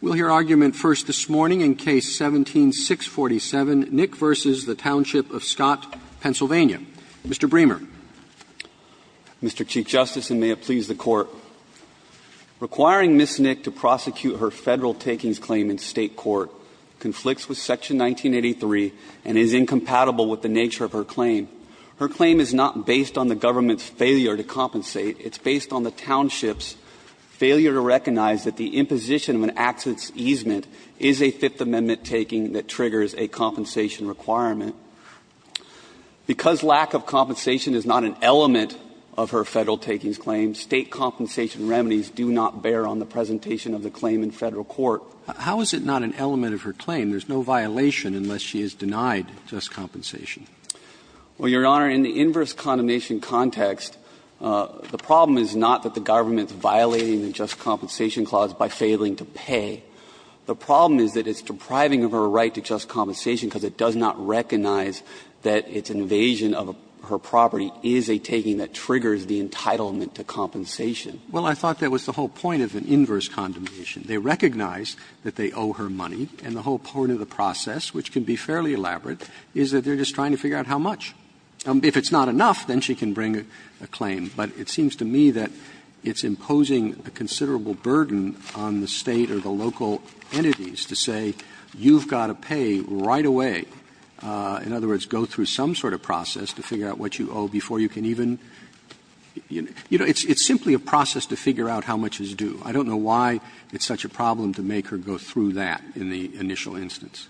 We'll hear argument first this morning in Case 17-647, Nick v. The Township of Scott, Pennsylvania. Mr. Bremer. Mr. Chief Justice, and may it please the Court, requiring Ms. Nick to prosecute her Federal takings claim in State court conflicts with Section 1983 and is incompatible with the nature of her claim. Her claim is not based on the government's failure to compensate. It's based on the township's failure to recognize that the imposition of an accident's easement is a Fifth Amendment taking that triggers a compensation requirement. Because lack of compensation is not an element of her Federal takings claim, State compensation remedies do not bear on the presentation of the claim in Federal court. How is it not an element of her claim? There's no violation unless she is denied just compensation. Well, Your Honor, in the inverse condemnation context, the problem is not that the government is violating the just compensation clause by failing to pay. The problem is that it's depriving her right to just compensation because it does not recognize that its invasion of her property is a taking that triggers the entitlement to compensation. Well, I thought that was the whole point of an inverse condemnation. They recognize that they owe her money, and the whole point of the process, which can be fairly elaborate, is that they are just trying to figure out how much. If it's not enough, then she can bring a claim. But it seems to me that it's imposing a considerable burden on the State or the local entities to say you've got to pay right away, in other words, go through some sort of process to figure out what you owe before you can even, you know, it's simply a process to figure out how much is due. I don't know why it's such a problem to make her go through that in the initial instance.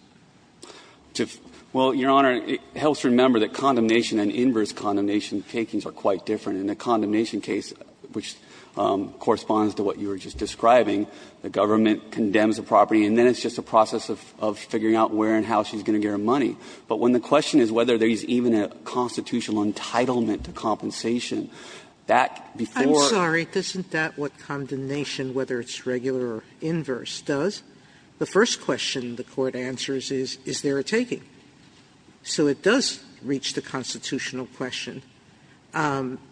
Well, Your Honor, it helps to remember that condemnation and inverse condemnation takings are quite different. In the condemnation case, which corresponds to what you were just describing, the government condemns the property, and then it's just a process of figuring out where and how she's going to get her money. But when the question is whether there is even a constitutional entitlement not just a process. And the answer is, is there a taking? So it does reach the constitutional question.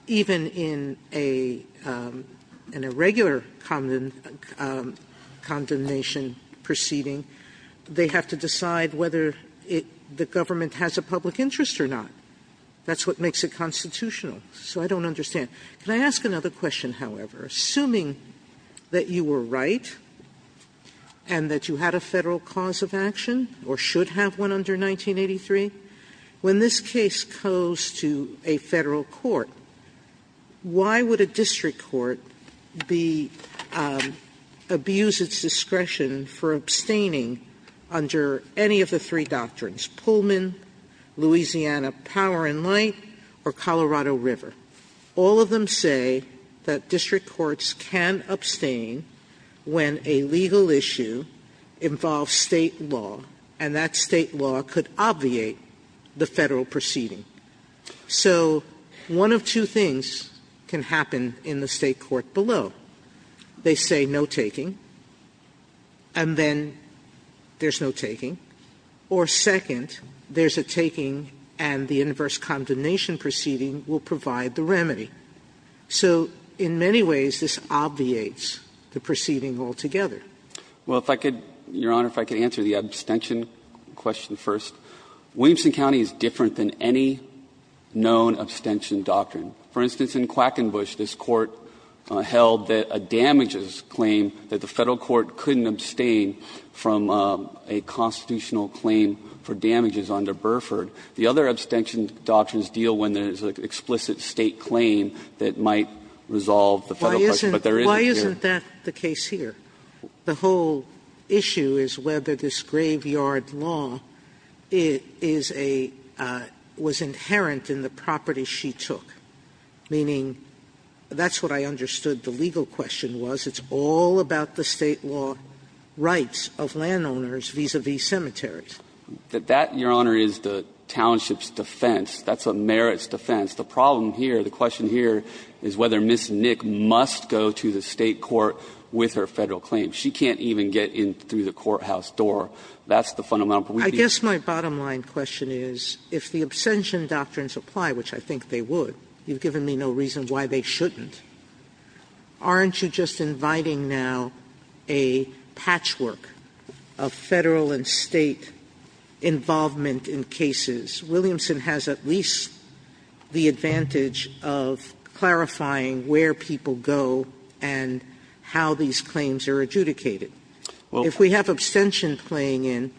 Even in a regular condemnation proceeding, they have to decide whether the government has a public interest or not. That's what makes it constitutional. So I don't understand. Can I ask another question, however? Assuming that you were right and that you had a Federal cause of action, and you have one, or should have one under 1983, when this case goes to a Federal court, why would a district court be abuse its discretion for abstaining under any of the three doctrines, Pullman, Louisiana Power and Light, or Colorado River? All of them say that district courts can abstain when a legal issue involves a State law, and that State law could obviate the Federal proceeding. So one of two things can happen in the State court below. They say no taking, and then there's no taking. Or second, there's a taking and the inverse condemnation proceeding will provide the remedy. So in many ways, this obviates the proceeding altogether. Well, if I could, Your Honor, if I could answer the abstention question first. Williamson County is different than any known abstention doctrine. For instance, in Quackenbush, this Court held that a damages claim that the Federal court couldn't abstain from a constitutional claim for damages under Burford. The other abstention doctrines deal when there's an explicit State claim that might resolve the Federal question, but there isn't here. Sotomayor, why isn't that the case here? The whole issue is whether this graveyard law is a – was inherent in the property she took, meaning that's what I understood the legal question was. It's all about the State law rights of landowners vis-à-vis cemeteries. That, Your Honor, is the township's defense. That's a merit's defense. The problem here, the question here, is whether Ms. Nick must go to the State court with her Federal claim. She can't even get in through the courthouse door. That's the fundamental problem. Sotomayor, I guess my bottom line question is, if the abstention doctrines apply, which I think they would, you've given me no reason why they shouldn't, aren't you just inviting now a patchwork of Federal and State involvement in cases? Williamson has at least the advantage of clarifying where people go and how these claims are adjudicated. If we have abstention playing in,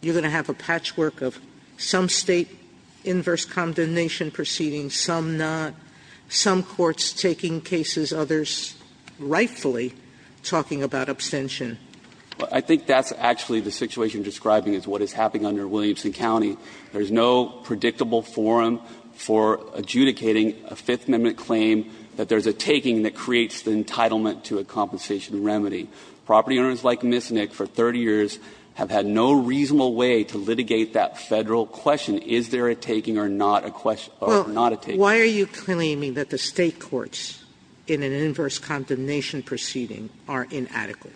you're going to have a patchwork of some State inverse condemnation proceedings, some not, some courts taking cases, others rightfully talking about abstention. I think that's actually the situation you're describing is what is happening under Williamson County. There's no predictable forum for adjudicating a Fifth Amendment claim that there's a taking that creates the entitlement to a compensation remedy. Property owners like Ms. Nick for 30 years have had no reasonable way to litigate that Federal question, is there a taking or not a question or not a taking. Sotomayor, why are you claiming that the State courts in an inverse condemnation proceeding are inadequate?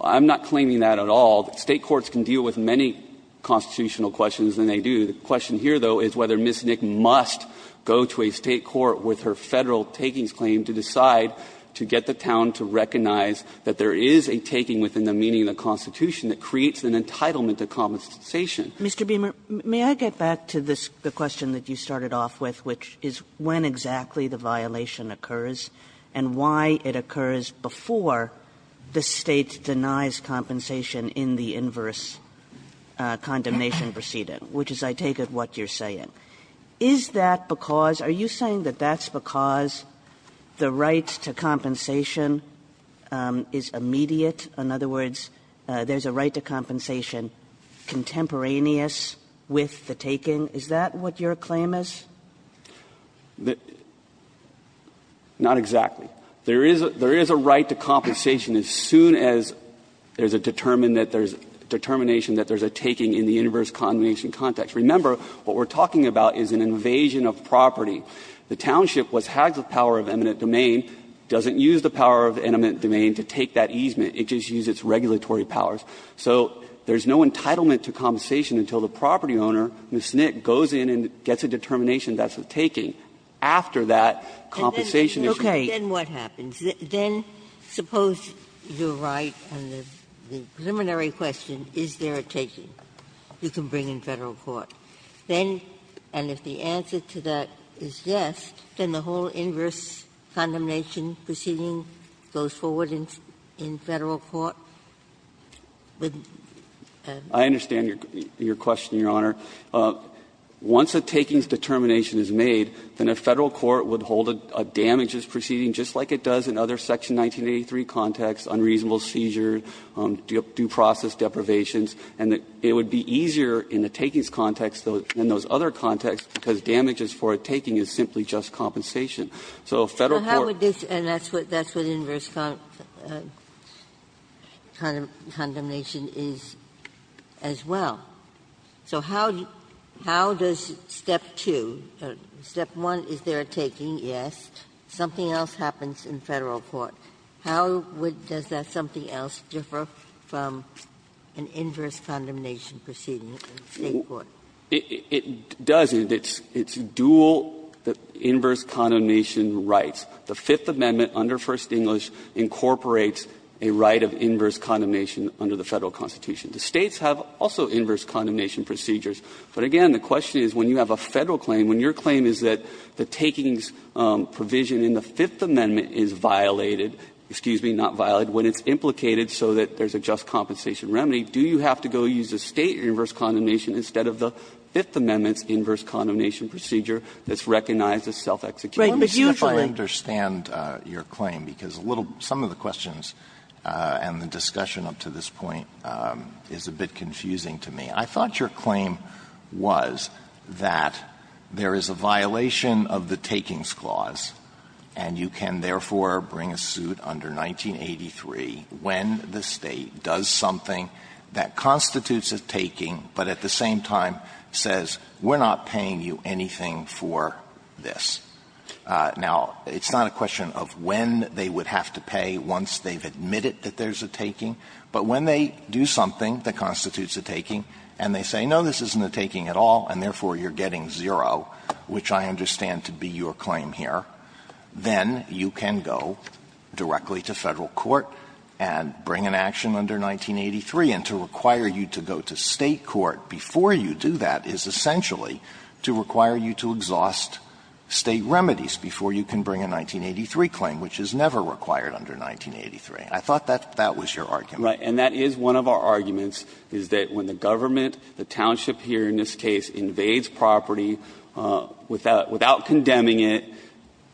I'm not claiming that at all. State courts can deal with many constitutional questions than they do. The question here, though, is whether Ms. Nick must go to a State court with her Federal takings claim to decide to get the town to recognize that there is a taking within the meaning of the Constitution that creates an entitlement to compensation. Kagan. Kagan. Mr. Beamer, may I get back to the question that you started off with, which is when exactly the violation occurs and why it occurs before the State denies compensation in the inverse condemnation proceeding, which is, I take it, what you're saying. Is that because – are you saying that that's because the right to compensation is immediate? In other words, there's a right to compensation contemporaneous with the taking? Is that what your claim is? Not exactly. There is a right to compensation as soon as there's a determination that there's a taking in the inverse condemnation context. Remember, what we're talking about is an invasion of property. The township, what has the power of eminent domain, doesn't use the power of eminent domain to take that easement. It just uses its regulatory powers. So there's no entitlement to compensation until the property owner, Ms. Nick, goes in and gets a determination that's a taking. After that, compensation is used. Ginsburg. Then what happens? Then suppose you're right, and the preliminary question, is there a taking you can bring in Federal court? Then, and if the answer to that is yes, then the whole inverse condemnation proceeding goes forward in Federal court? I understand your question, Your Honor. Once a taking's determination is made, then a Federal court would hold a damages proceeding just like it does in other Section 1983 contexts, unreasonable seizures, due process deprivations, and it would be easier in the takings context than those other contexts because damages for a taking is simply just compensation. So Federal court can't do that. And that's what inverse condemnation is as well. So how does step two, step one is there a taking, yes, something else happens in Federal court. How does that something else differ from an inverse condemnation proceeding in State court? It does. It's dual, the inverse condemnation rights. The Fifth Amendment under First English incorporates a right of inverse condemnation under the Federal Constitution. The States have also inverse condemnation procedures. But again, the question is when you have a Federal claim, when your claim is that the takings provision in the Fifth Amendment is violated, excuse me, not violated, when it's implicated so that there's a just compensation remedy, do you have to go use a State inverse condemnation instead of the Fifth Amendment's inverse condemnation procedure that's recognized as self-execution? But usually you have to use a State inverse condemnation procedure that's recognized Sotomayor, I don't understand your claim, because some of the questions and the discussion up to this point is a bit confusing to me. I thought your claim was that there is a violation of the Takings Clause, and you can therefore bring a suit under 1983 when the State does something that constitutes a taking, but at the same time says we're not paying you anything for this. Now, it's not a question of when they would have to pay once they've admitted that there's a taking, but when they do something that constitutes a taking and they say, no, this isn't a taking at all, and therefore you're getting zero, which I understand to be your claim here, then you can go directly to Federal court and bring an action under 1983, and to require you to go to State court before you do that is essentially to require you to exhaust State remedies before you can bring a 1983 claim, which is never required under 1983. I thought that that was your argument. Right. And that is one of our arguments, is that when the government, the township here in this case, invades property without condemning it,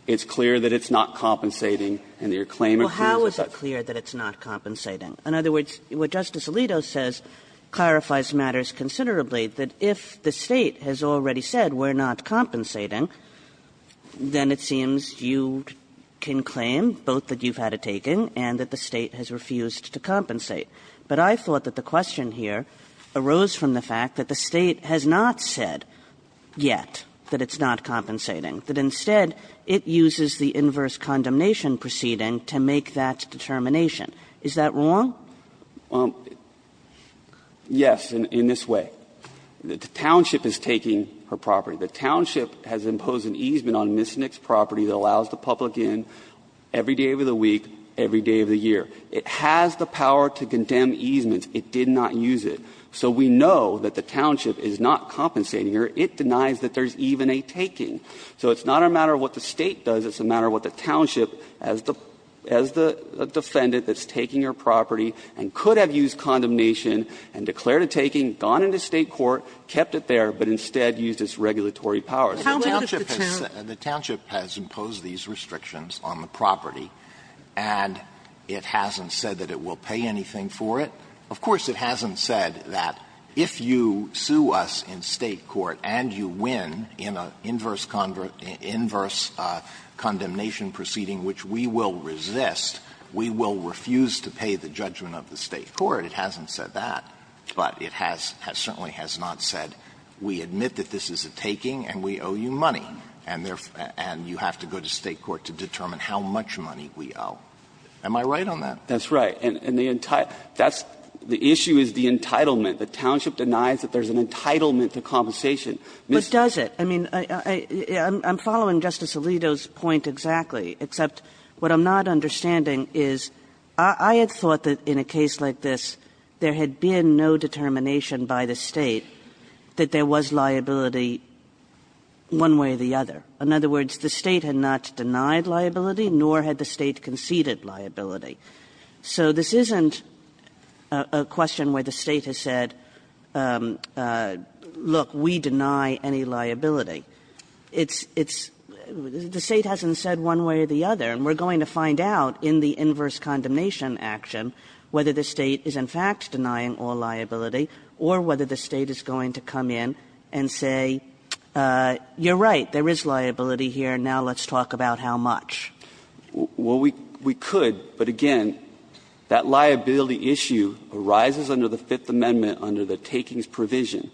it's clear that it's not compensating and their claim occurs at that point. Kagan Well, how is it clear that it's not compensating? In other words, what Justice Alito says clarifies matters considerably, that if the State has already said we're not compensating, then it seems you can claim both that you've had a taking and that the State has refused to compensate. But I thought that the question here arose from the fact that the State has not said yet that it's not compensating, that instead it uses the inverse condemnation proceeding to make that determination. Is that wrong? Yes, in this way. The township is taking her property. The township has imposed an easement on Miss Nick's property that allows the public in every day of the week, every day of the year. It has the power to condemn easements. It did not use it. So we know that the township is not compensating her. It denies that there's even a taking. So it's not a matter of what the State does. It's a matter of what the township, as the defendant that's taking her property and could have used condemnation and declared a taking, gone into State court, kept it there, but instead used its regulatory powers. The township has imposed these restrictions on the property, and it hasn't said that it will pay anything for it. Of course, it hasn't said that if you sue us in State court and you win in an inverse condemnation proceeding, which we will resist, we will refuse to pay the judgment of the State court. It hasn't said that. But it has certainly has not said we admit that this is a taking and we owe you money, and you have to go to State court to determine how much money we owe. Am I right on that? That's right. And the issue is the entitlement. The township denies that there's an entitlement to compensation. But does it? I mean, I'm following Justice Alito's point exactly, except what I'm not understanding is I had thought that in a case like this, there had been no determination by the State that there was liability one way or the other. In other words, the State had not denied liability, nor had the State conceded liability. So this isn't a question where the State has said, look, we deny any liability. It's the State hasn't said one way or the other, and we're going to find out in the inverse condemnation action whether the State is in fact denying all liability or whether the State is going to come in and say, you're right, there is liability here, now let's talk about how much. Well, we could, but again, that liability issue arises under the Fifth Amendment under the takings provision.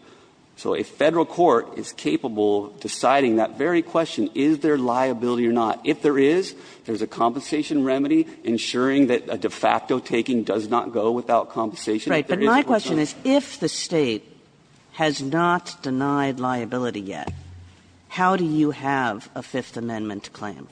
So a Federal court is capable of deciding that very question, is there liability or not. If there is, there's a compensation remedy ensuring that a de facto taking does not go without compensation, if there is, of course, liability. Kagan, if the State has not denied liability yet, how do you have a Fifth Amendment claim?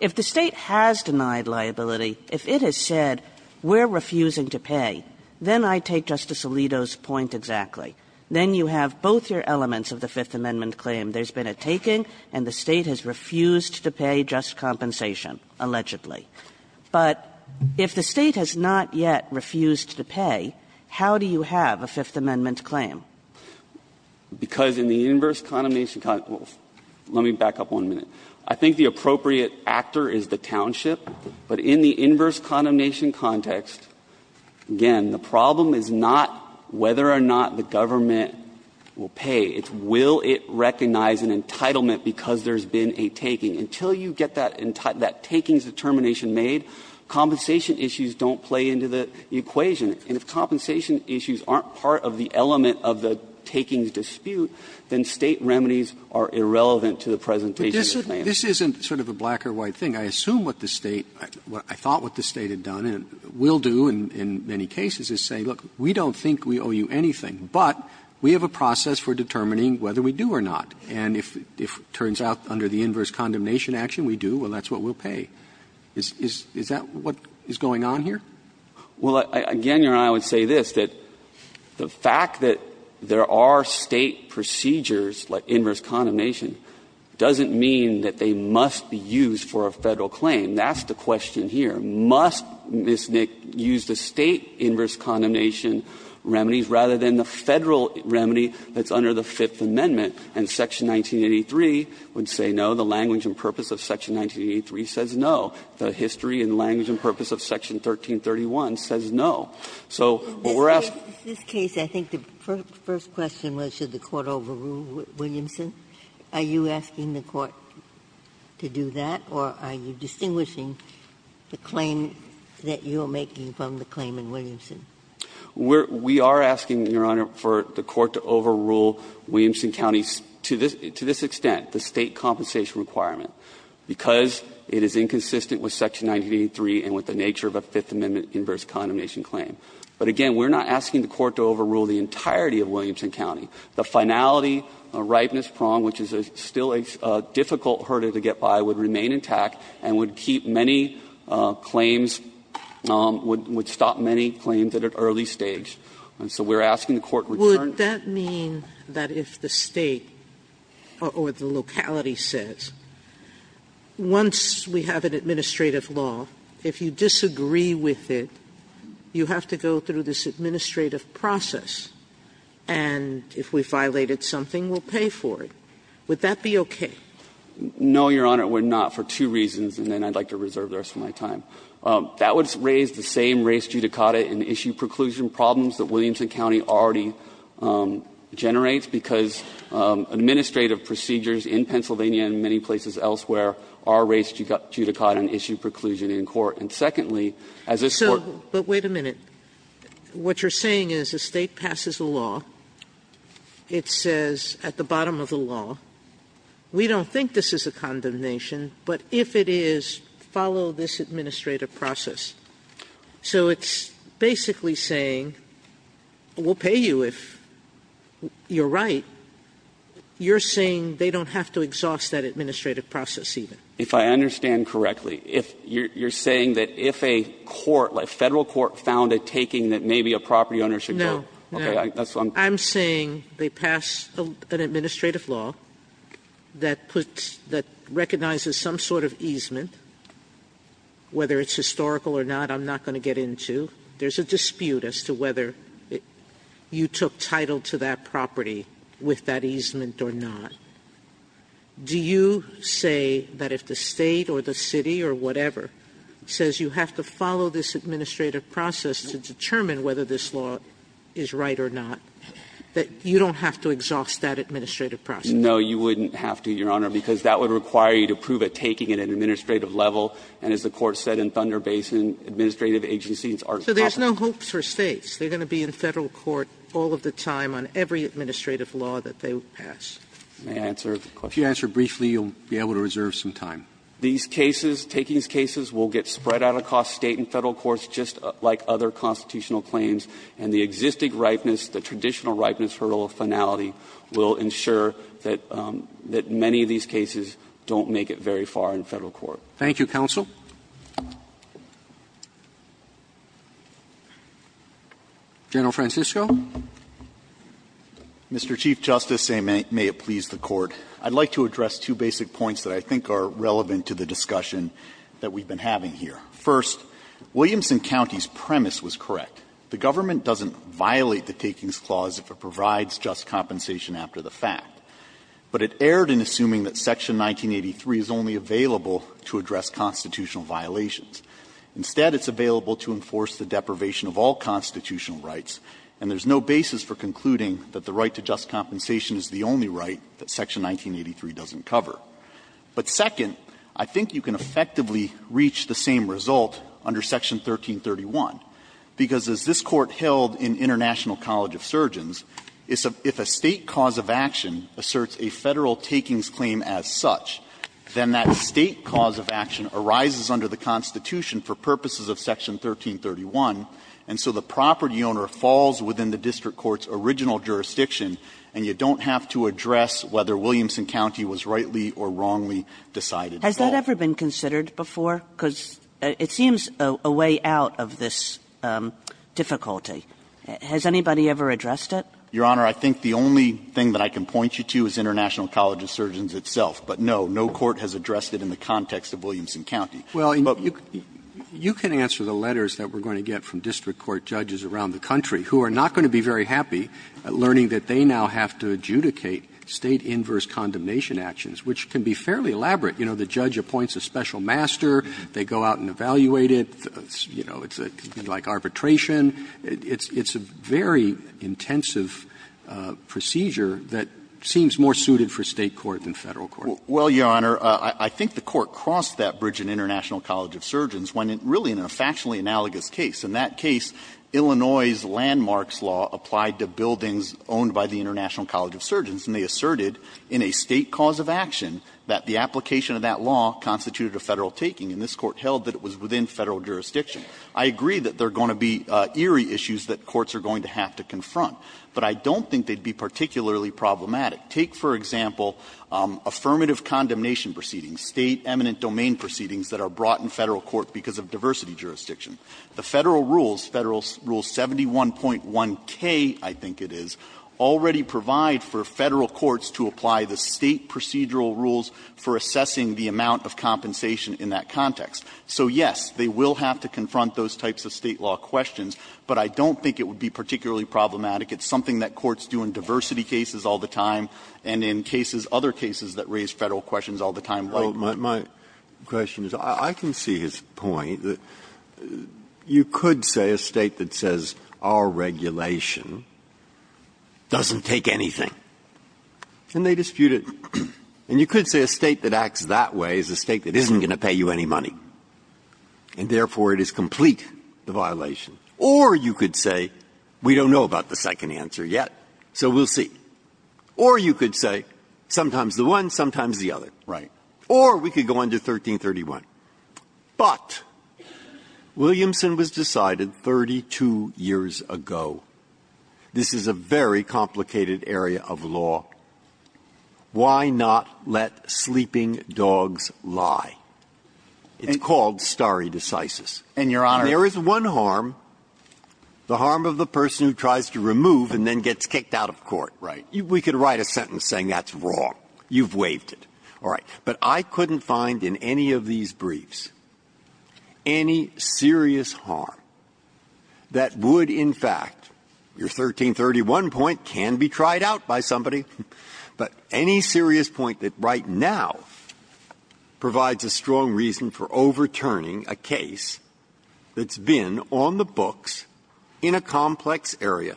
If the State has denied liability, if it has said, we're refusing to pay, then I take Justice Alito's point exactly. Then you have both your elements of the Fifth Amendment claim. There's been a taking, and the State has refused to pay just compensation, allegedly. But if the State has not yet refused to pay, how do you have a Fifth Amendment claim? Because in the inverse condemnation con – let me back up one minute. I think the appropriate actor is the township, but in the inverse condemnation context, again, the problem is not whether or not the government will pay. It's will it recognize an entitlement because there's been a taking. Until you get that taking's determination made, compensation issues don't play into the equation. And if compensation issues aren't part of the element of the taking's dispute, then State remedies are irrelevant to the presentation of the claim. Roberts, this isn't sort of a black or white thing. I assume what the State – I thought what the State had done and will do in many cases is say, look, we don't think we owe you anything, but we have a process for determining whether we do or not. And if it turns out under the inverse condemnation action we do, well, that's what we'll pay. Is that what is going on here? Well, again, Your Honor, I would say this, that the fact that there are State procedures like inverse condemnation doesn't mean that they must be used for a Federal claim. That's the question here. Must Ms. Nick use the State inverse condemnation remedies rather than the Federal remedy that's under the Fifth Amendment? And Section 1983 would say no. The language and purpose of Section 1983 says no. The history and language and purpose of Section 1331 says no. So what we're asking – Ginsburg's case, I think the first question was should the Court overrule Williamson. Are you asking the Court to do that, or are you distinguishing the claim that you're making from the claim in Williamson? We are asking, Your Honor, for the Court to overrule Williamson County to this extent, the State compensation requirement, because it is inconsistent with Section 1983 and with the nature of a Fifth Amendment inverse condemnation claim. But again, we're not asking the Court to overrule the entirety of Williamson County. The finality, a ripeness prong, which is still a difficult hurdle to get by, would remain intact and would keep many claims – would stop many claims at an early stage. And so we're asking the Court to return to the State compensation requirement. Sotomayor, would that mean that if the State or the locality says, once we have an administrative law, if you disagree with it, you have to go through this administrative process, and if we violated something, we'll pay for it, would that be okay? No, Your Honor. We're not for two reasons, and then I'd like to reserve the rest of my time. That would raise the same race judicata and issue preclusion problems that Williamson County already generates, because administrative procedures in Pennsylvania and many places elsewhere are race judicata and issue preclusion in court. And secondly, as this Court – Sotomayor, but wait a minute. What you're saying is the State passes a law. It says at the bottom of the law, we don't think this is a condemnation but if it is, follow this administrative process. So it's basically saying, we'll pay you if you're right. You're saying they don't have to exhaust that administrative process even. If I understand correctly, you're saying that if a court, like Federal court, found a taking that maybe a property owner should go? No. No. I'm saying they pass an administrative law that puts – that recognizes some sort of easement, whether it's historical or not, I'm not going to get into. There's a dispute as to whether you took title to that property with that easement or not. Do you say that if the State or the City or whatever says you have to follow this administrative process to determine whether this law is right or not, that you don't have to exhaust that administrative process? No, you wouldn't have to, Your Honor, because that would require you to prove it, taking it at an administrative level. And as the Court said in Thunder Basin, administrative agencies are competent. So there's no hopes for States? They're going to be in Federal court all of the time on every administrative law that they pass? May I answer the question? If you answer briefly, you'll be able to reserve some time. These cases, takings cases, will get spread out across State and Federal courts just like other constitutional claims, and the existing ripeness, the traditional ripeness hurdle of finality, will ensure that many of these cases don't make it very far in Federal court. Thank you, counsel. General Francisco. Mr. Chief Justice, and may it please the Court, I'd like to address two basic points that I think are relevant to the discussion that we've been having here. First, Williamson County's premise was correct. The government doesn't violate the takings clause if it provides just compensation after the fact. But it erred in assuming that Section 1983 is only available to address constitutional violations. Instead, it's available to enforce the deprivation of all constitutional rights, and there's no basis for concluding that the right to just compensation is the only right that Section 1983 doesn't cover. But second, I think you can effectively reach the same result under Section 1331, because as this Court held in International College of Surgeons, if a State cause of action asserts a Federal takings claim as such, then that State cause of action arises under the Constitution for purposes of Section 1331, and so the property owner falls within the district court's original jurisdiction, and you don't have to address whether Williamson County was rightly or wrongly decided to fall. Has that ever been considered before? Because it seems a way out of this difficulty. Has anybody ever addressed it? Your Honor, I think the only thing that I can point you to is International College of Surgeons itself. But no, no court has addressed it in the context of Williamson County. Robertson, but you can answer the letters that we're going to get from district court judges around the country who are not going to be very happy learning that they now have to adjudicate State inverse condemnation actions, which can be fairly elaborate. You know, the judge appoints a special master, they go out and evaluate it, you know, it's like arbitration. It's a very intensive procedure that seems more suited for State court than Federal court. Well, Your Honor, I think the Court crossed that bridge in International College of Surgeons when it really, in a factually analogous case, in that case, Illinois' landmarks law applied to buildings owned by the International College of Surgeons, and they asserted in a State cause of action that the application of that law constituted a Federal taking, and this Court held that it was within Federal jurisdiction. I agree that there are going to be eerie issues that courts are going to have to confront, but I don't think they'd be particularly problematic. Take, for example, affirmative condemnation proceedings, State eminent domain proceedings that are brought in Federal court because of diversity jurisdiction. The Federal rules, Federal rule 71.1k, I think it is, already provide for Federal courts to apply the State procedural rules for assessing the amount of compensation in that context. So, yes, they will have to confront those types of State law questions, but I don't think it would be particularly problematic. It's something that courts do in diversity cases all the time and in cases, other cases that raise Federal questions all the time, like mine. Breyer. My question is, I can see his point that you could say a State that says our regulation doesn't take anything, and they dispute it. And you could say a State that acts that way is a State that isn't going to pay you any money. And, therefore, it is complete, the violation. Or you could say we don't know about the second answer yet, so we'll see. Or you could say sometimes the one, sometimes the other. Right. Or we could go on to 1331. But Williamson was decided 32 years ago. This is a very complicated area of law. Why not let sleeping dogs lie? It's called stare decisis. And, Your Honor. There is one harm, the harm of the person who tries to remove and then gets kicked out of court. Right. We could write a sentence saying that's wrong. You've waived it. All right. But I couldn't find in any of these briefs any serious harm that would, in fact, your 1331 point can be tried out by somebody, but any serious point that right now provides a strong reason for overturning a case that's been on the books in a complex area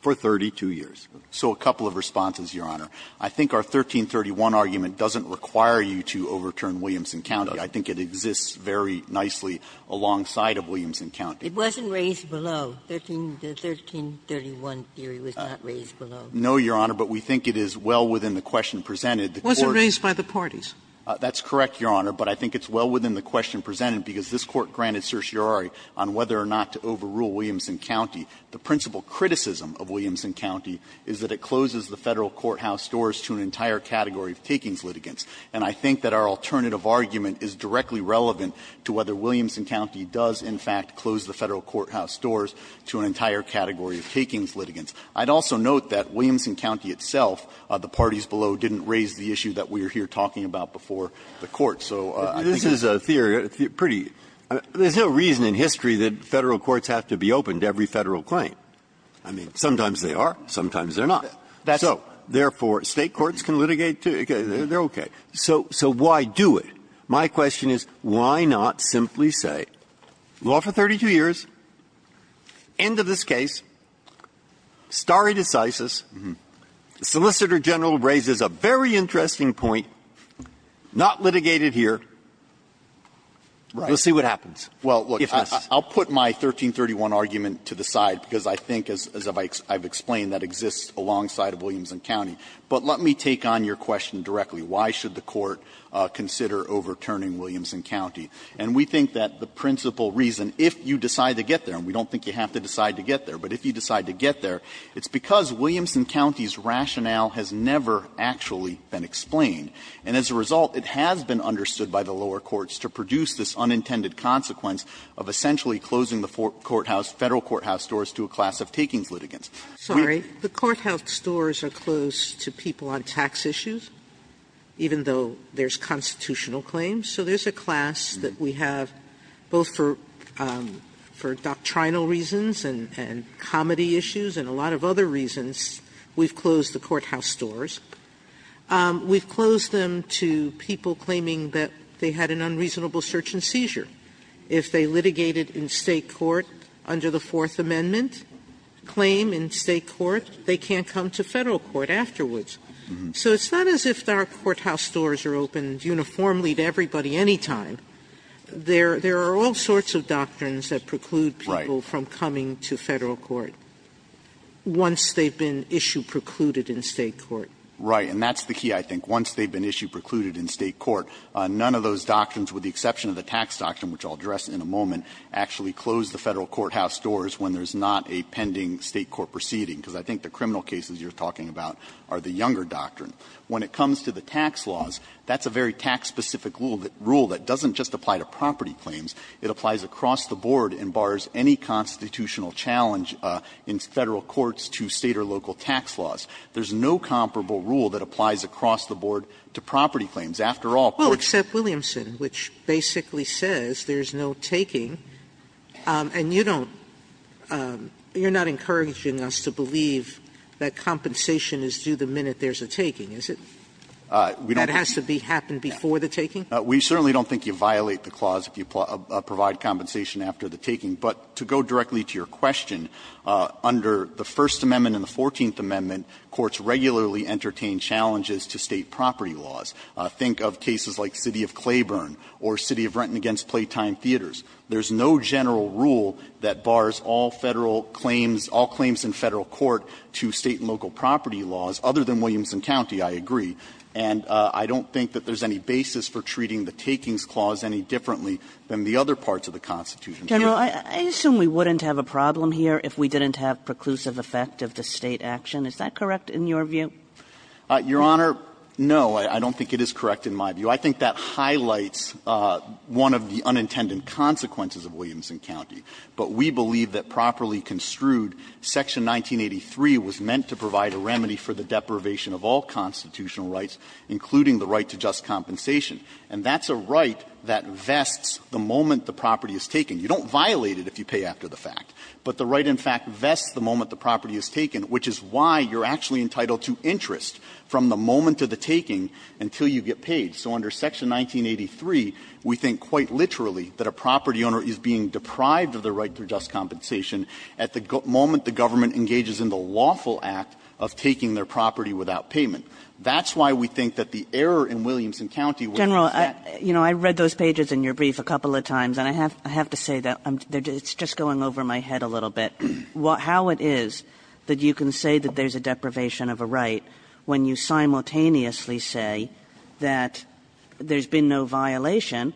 for 32 years. So a couple of responses, Your Honor. I think our 1331 argument doesn't require you to overturn Williamson County. I think it exists very nicely alongside of Williamson County. It wasn't raised below. The 1331 theory was not raised below. No, Your Honor, but we think it is well within the question presented. It wasn't raised by the parties. That's correct, Your Honor, but I think it's well within the question presented because this Court granted certiorari on whether or not to overrule Williamson County. The principal criticism of Williamson County is that it closes the Federal courthouse doors to an entire category of takings litigants. And I think that our alternative argument is directly relevant to whether Williamson County does, in fact, close the Federal courthouse doors to an entire category of takings litigants. I'd also note that Williamson County itself, the parties below, didn't raise the issue that we are here talking about before the Court. So I think that's a pretty good argument. Breyer. There's no reason in history that Federal courts have to be open to every Federal claim. I mean, sometimes they are, sometimes they're not. So therefore, State courts can litigate, too. They're okay. So why do it? My question is why not simply say, law for 32 years, end of this case. Stare decisis, the Solicitor General raises a very interesting point, not litigated here. Right? We'll see what happens. Well, look, I'll put my 1331 argument to the side, because I think, as I've explained, that exists alongside of Williamson County. But let me take on your question directly. Why should the Court consider overturning Williamson County? And we think that the principal reason, if you decide to get there, and we don't think you have to decide to get there, but if you decide to get there, it's because Williamson County's rationale has never actually been explained. And as a result, it has been understood by the lower courts to produce this unintended consequence of essentially closing the courthouse, Federal courthouse doors to a class of takings litigants. Sotomayor, the courthouse doors are closed to people on tax issues, even though there's constitutional claims. So there's a class that we have both for doctrinal reasons and comedy issues and a lot of other reasons, we've closed the courthouse doors. We've closed them to people claiming that they had an unreasonable search and seizure. If they litigated in State court under the Fourth Amendment claim in State court, they can't come to Federal court afterwards. So it's not as if our courthouse doors are open uniformly to everybody any time. There are all sorts of doctrines that preclude people from coming to Federal court once they've been issue-precluded in State court. Right. And that's the key, I think. Once they've been issue-precluded in State court, none of those doctrines, with the exception of the tax doctrine, which I'll address in a moment, actually close the Federal courthouse doors when there's not a pending State court proceeding. Because I think the criminal cases you're talking about are the younger doctrine. When it comes to the tax laws, that's a very tax-specific rule that doesn't just apply to property claims. It applies across the board and bars any constitutional challenge in Federal courts to State or local tax laws. There's no comparable rule that applies across the board to property claims. After all, courts don't need property claims. Sotomayor, which basically says there's no taking, and you don't you're not encouraging us to believe that compensation is due the minute there's a taking, is it? That has to be happened before the taking? We certainly don't think you violate the clause if you provide compensation after the taking. But to go directly to your question, under the First Amendment and the Fourteenth Amendment, courts regularly entertain challenges to State property laws. Think of cases like City of Claiborne or City of Renton against Playtime Theaters. There's no general rule that bars all Federal claims, all claims in Federal court to State and local property laws, other than Williamson County, I agree. And I don't think that there's any basis for treating the takings clause any differently than the other parts of the Constitution. Kagan, I assume we wouldn't have a problem here if we didn't have preclusive effect of the State action. Is that correct in your view? I think that highlights one of the unintended consequences of Williamson County. But we believe that properly construed, Section 1983 was meant to provide a remedy for the deprivation of all constitutional rights, including the right to just compensation. And that's a right that vests the moment the property is taken. You don't violate it if you pay after the fact. But the right in fact vests the moment the property is taken, which is why you're actually entitled to interest from the moment of the taking until you get paid. So under Section 1983, we think quite literally that a property owner is being deprived of their right to just compensation at the moment the government engages in the lawful act of taking their property without payment. That's why we think that the error in Williamson County was not set. Kagan, you know, I read those pages in your brief a couple of times, and I have to say that it's just going over my head a little bit, how it is that you can say that there's a deprivation of a right when you simultaneously say that there's a deprivation of a right when you say that there's been no violation,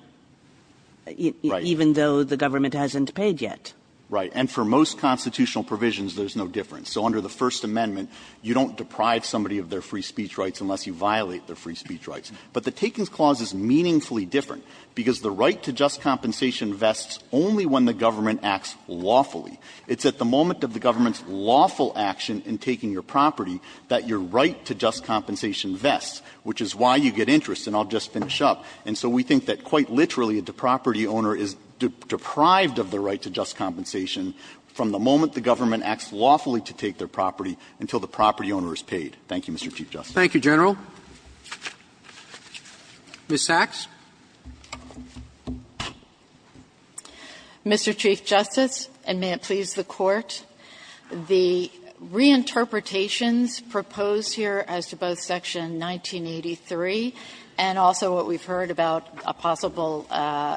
even though the government hasn't paid yet. Right. And for most constitutional provisions, there's no difference. So under the First Amendment, you don't deprive somebody of their free speech rights unless you violate their free speech rights. But the Takings Clause is meaningfully different, because the right to just compensation vests only when the government acts lawfully. It's at the moment of the government's lawful action in taking your property that your right to just compensation vests, which is why you get interest. And I'll just finish up. And so we think that quite literally, the property owner is deprived of the right to just compensation from the moment the government acts lawfully to take their property until the property owner is paid. Thank you, Mr. Chief Justice. Roberts. Roberts. Thank you, General. Ms. Sachs. Mr. Chief Justice, and may it please the Court, the reinterpretations proposed here as to both Section 1983 and also what we've heard about a possible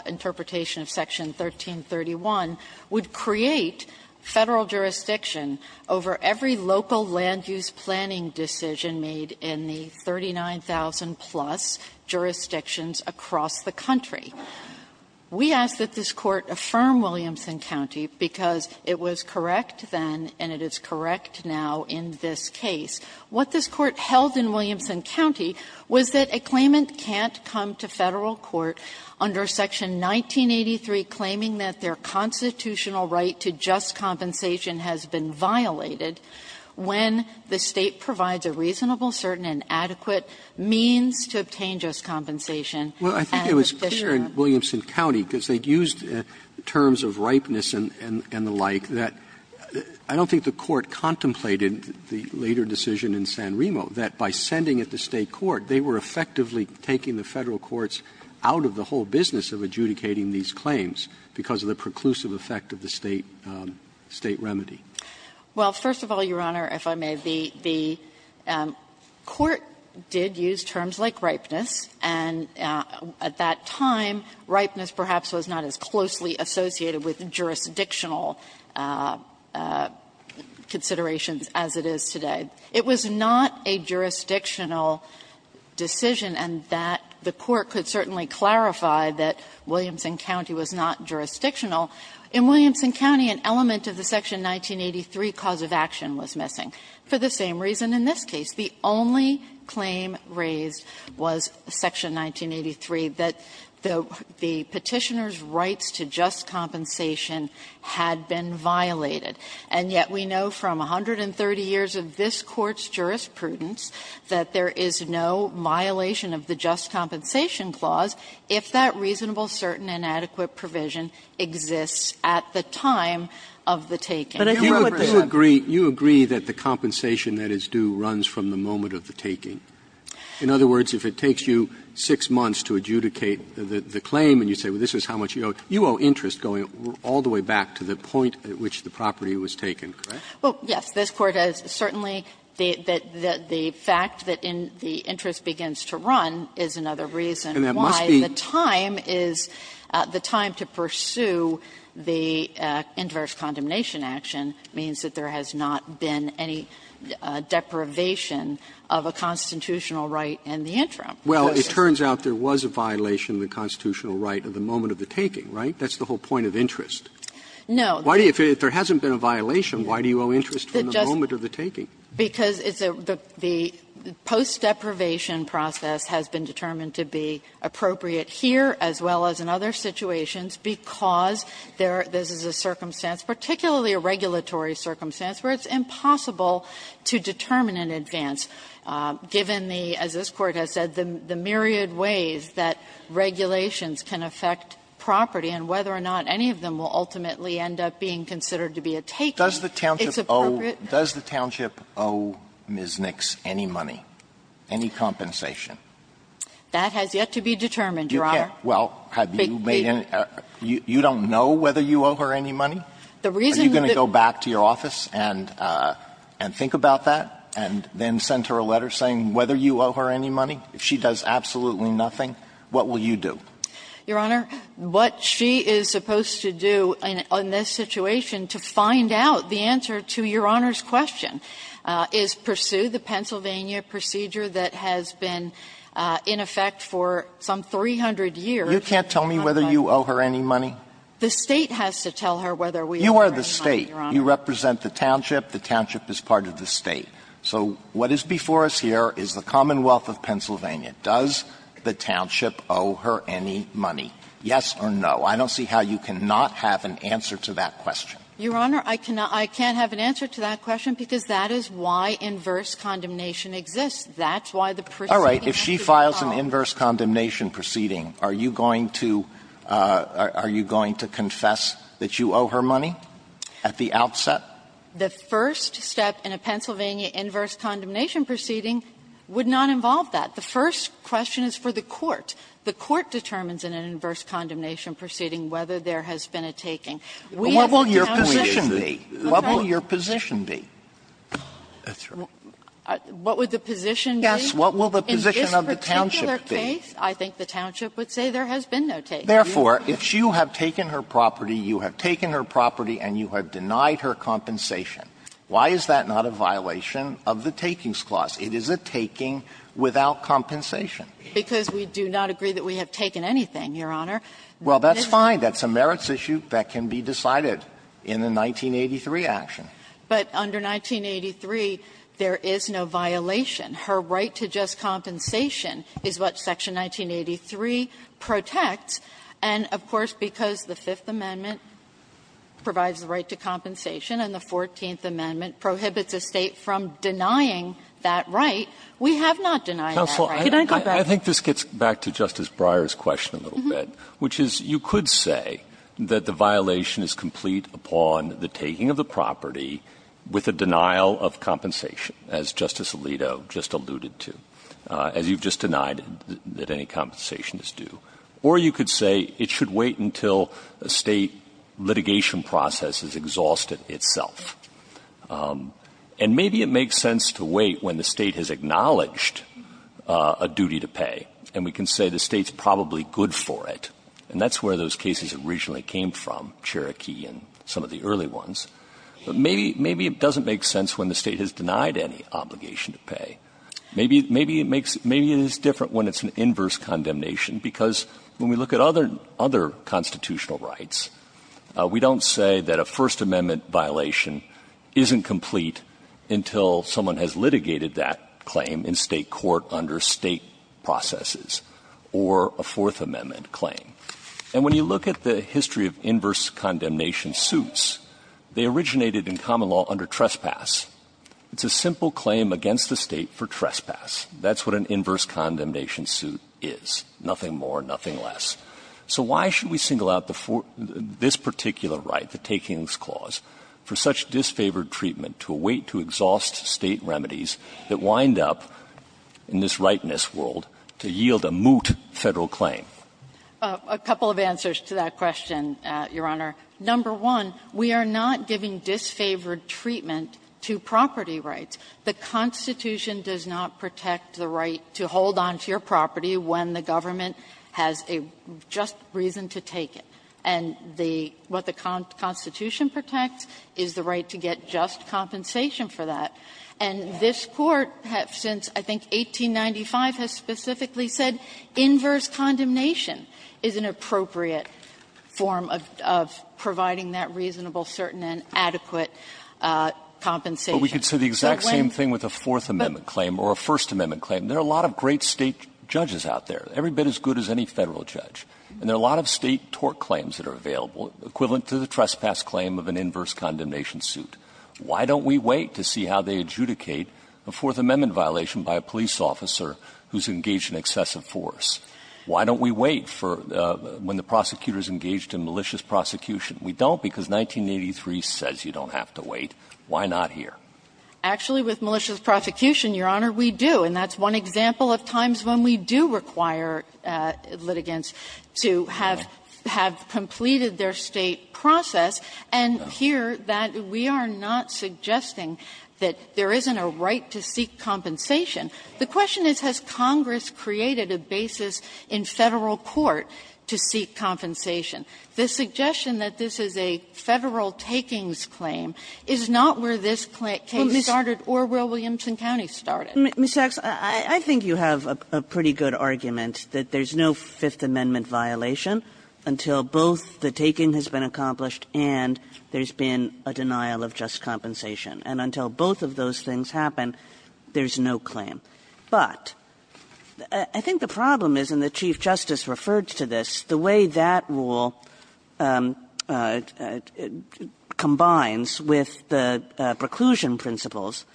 interpretation of Section 1331 would create Federal jurisdiction over every local land-use planning decision made in the 39,000-plus jurisdictions across the country. We ask that this Court affirm Williamson County, because it was correct then and it is correct now in this case. What this Court held in Williamson County was that a claimant can't come to Federal court under Section 1983 claiming that their constitutional right to just compensation has been violated when the State provides a reasonable, certain, and adequate means to obtain just compensation. And the Fisherman's County. Roberts. Well, I think it was clear in Williamson County, because they used terms of ripeness and the like, that I don't think the Court contemplated the later decision in San Remo, that by sending it to State court, they were effectively taking the Federal courts out of the whole business of adjudicating these claims because of the preclusive effect of the State remedy. Well, first of all, Your Honor, if I may, the Court did use terms like ripeness, and at that time, ripeness perhaps was not as closely associated with jurisdictional considerations as it is today. It was not a jurisdictional decision, and that the Court could certainly clarify that Williamson County was not jurisdictional. In Williamson County, an element of the Section 1983 cause of action was missing, for the same reason in this case. The only claim raised was Section 1983, that the Petitioner's rights to just compensation had been violated. And yet we know from 130 years of this Court's jurisprudence that there is no violation of the just compensation clause if that reasonable, certain, and adequate provision exists at the time of the taking. But I think what the lawyer says is that there is no violation of the just compensation taking. Roberts, you agree that the compensation that is due runs from the moment of the taking. In other words, if it takes you 6 months to adjudicate the claim and you say, well, this is how much you owe, you owe interest going all the way back to the point at which the property was taken, correct? Well, yes, this Court has certainly the fact that the interest begins to run is another reason why the time is the time to pursue the inverse condemnation action means that there has not been any deprivation of a constitutional right in the interim. Roberts, it turns out there was a violation of the constitutional right at the moment of the taking, right? That's the whole point of interest. No. If there hasn't been a violation, why do you owe interest from the moment of the taking? Because it's a the post-deprivation process has been determined to be appropriate here as well as in other situations because there is a circumstance, particularly a regulatory circumstance, where it's impossible to determine in advance, given the, as this Court has said, the myriad ways that regulations can affect property and whether or not any of them will ultimately end up being considered to be a taking, it's appropriate. Does the township owe Ms. Nix any money, any compensation? That has yet to be determined, Your Honor. Well, have you made any, you don't know whether you owe her any money? Are you going to go back to your office and think about that and then send her a letter saying whether you owe her any money? If she does absolutely nothing, what will you do? Your Honor, what she is supposed to do in this situation to find out the answer to Your Honor's question is pursue the Pennsylvania procedure that has been in effect for some 300 years. You can't tell me whether you owe her any money? The State has to tell her whether we owe her any money, Your Honor. You are the State. You represent the township. The township is part of the State. So what is before us here is the Commonwealth of Pennsylvania. Does the township owe her any money, yes or no? I don't see how you cannot have an answer to that question. Your Honor, I cannot, I can't have an answer to that question because that is why inverse condemnation exists. That's why the proceeding has to be filed. All right. If she files an inverse condemnation proceeding, are you going to, are you going to confess that you owe her money at the outset? The first step in a Pennsylvania inverse condemnation proceeding would not involve that. The first question is for the court. The court determines in an inverse condemnation proceeding whether there has been a taking. We have the township. Alitono, what will your position be? That's right. What would the position be? Yes, what will the position of the township be? In this particular case, I think the township would say there has been no taking. Therefore, if you have taken her property, you have taken her property, and you have denied her compensation, why is that not a violation of the takings clause? It is a taking without compensation. Because we do not agree that we have taken anything, Your Honor. Well, that's fine. That's a merits issue that can be decided in the 1983 action. But under 1983, there is no violation. Her right to just compensation is what Section 1983 protects. And if the 14th Amendment prohibits a State from denying that right, we have not denied that right. Counsel, I think this gets back to Justice Breyer's question a little bit, which is you could say that the violation is complete upon the taking of the property with a denial of compensation, as Justice Alito just alluded to, as you've just denied that any compensation is due. Or you could say it should wait until a State litigation process has exhausted itself. And maybe it makes sense to wait when the State has acknowledged a duty to pay, and we can say the State's probably good for it. And that's where those cases originally came from, Cherokee and some of the early ones. But maybe it doesn't make sense when the State has denied any obligation to pay. Maybe it makes – maybe it is different when it's an inverse condemnation, because when we look at other constitutional rights, we don't say that a First Amendment violation isn't complete until someone has litigated that claim in State court under State processes or a Fourth Amendment claim. And when you look at the history of inverse condemnation suits, they originated in common law under trespass. It's a simple claim against the State for trespass. That's what an inverse condemnation suit is, nothing more, nothing less. So why should we single out the – this particular right, the takings clause, for such disfavored treatment to await to exhaust State remedies that wind up in this rightness world to yield a moot Federal claim? A couple of answers to that question, Your Honor. Number one, we are not giving disfavored treatment to property rights. The Constitution does not protect the right to hold onto your property when the government has a just reason to take it. And the – what the Constitution protects is the right to get just compensation for that. And this Court has, since I think 1895, has specifically said inverse condemnation is an appropriate form of providing that reasonable, certain, and adequate compensation. So when – But we could say the exact same thing with a Fourth Amendment claim or a First Amendment claim. There are a lot of great State judges out there. Every bit as good as any Federal judge. And there are a lot of State tort claims that are available, equivalent to the trespass claim of an inverse condemnation suit. Why don't we wait to see how they adjudicate a Fourth Amendment violation by a police officer who's engaged in excessive force? Why don't we wait for when the prosecutor is engaged in malicious prosecution? We don't because 1983 says you don't have to wait. Why not here? Actually, with malicious prosecution, Your Honor, we do. And that's one example of times when we do require litigants to have – have completed their State process. And here, that – we are not suggesting that there isn't a right to seek compensation. The question is, has Congress created a basis in Federal court to seek compensation? The suggestion that this is a Federal takings claim is not where this case started or where Williamson County started. Kagan. Kagan. Ms. Sachs, I think you have a pretty good argument that there's no Fifth Amendment violation until both the taking has been accomplished and there's been a denial of just compensation, and until both of those things happen, there's no claim. But I think the problem is, and the Chief Justice referred to this, the way that that rule combines with the preclusion principles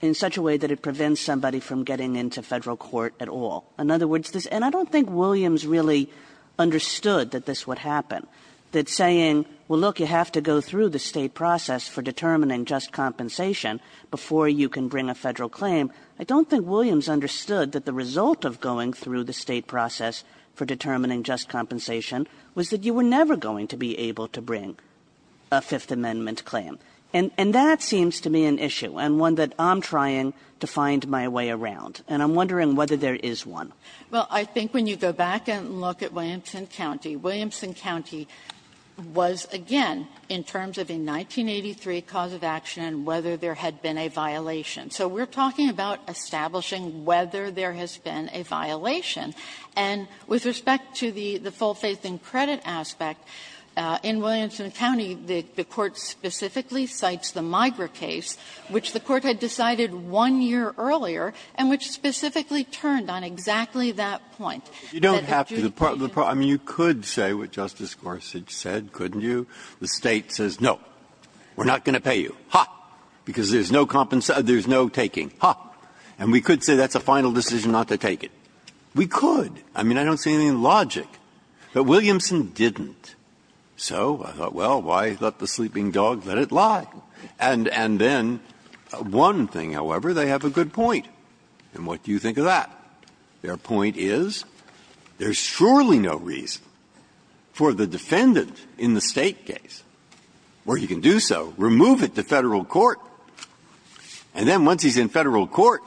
in such a way that it prevents somebody from getting into Federal court at all. In other words, this – and I don't think Williams really understood that this would happen, that saying, well, look, you have to go through the State process for determining just compensation before you can bring a Federal claim, I don't think Williams understood that the result of going through the State process for determining just compensation was that you were never going to be able to bring a Fifth Amendment claim. And that seems to me an issue, and one that I'm trying to find my way around. And I'm wondering whether there is one. Sachs, I think when you go back and look at Williamson County, Williamson County was, again, in terms of a 1983 cause of action and whether there had been a violation. So we're talking about establishing whether there has been a violation. And with respect to the full faith and credit aspect, in Williamson County, the court specifically cites the Migra case, which the Court had decided one year earlier and which specifically turned on exactly that point. Breyer, you don't have to. I mean, you could say what Justice Gorsuch said, couldn't you? The State says, no, we're not going to pay you, ha, because there's no taking, ha. And we could say that's a final decision not to take it. We could. I mean, I don't see any logic. But Williamson didn't. So I thought, well, why let the sleeping dog let it lie? And then, one thing, however, they have a good point. And what do you think of that? Their point is there's surely no reason for the defendant in the State case, or he could do so, remove it to Federal court, and then once he's in Federal court,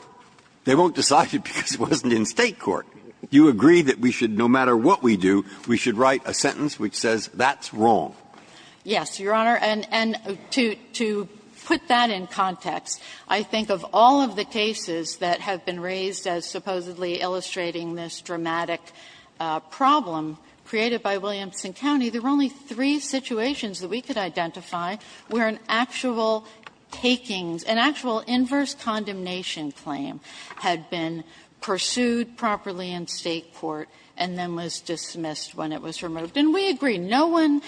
they won't decide it because it wasn't in State court. You agree that we should, no matter what we do, we should write a sentence which says that's wrong? Yes, Your Honor. And to put that in context, I think of all of the cases that have been raised as supposedly illustrating this dramatic problem created by Williamson County, there were only three situations that we could identify where an actual takings, an actual inverse condemnation claim had been pursued properly in State court and then was dismissed when it was removed. And we agree, no one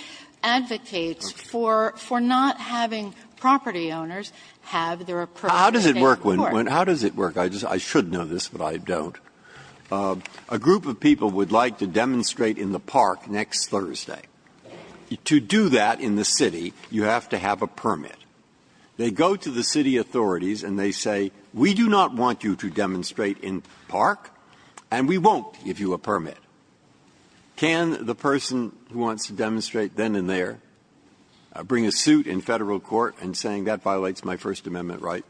advocates for not having property owners have their approach in State court. Breyer, how does it work? I should know this, but I don't. A group of people would like to demonstrate in the park next Thursday. To do that in the city, you have to have a permit. They go to the city authorities and they say, we do not want you to demonstrate in park, and we won't give you a permit. Can the person who wants to demonstrate then and there bring a suit in Federal court in saying that violates my First Amendment right?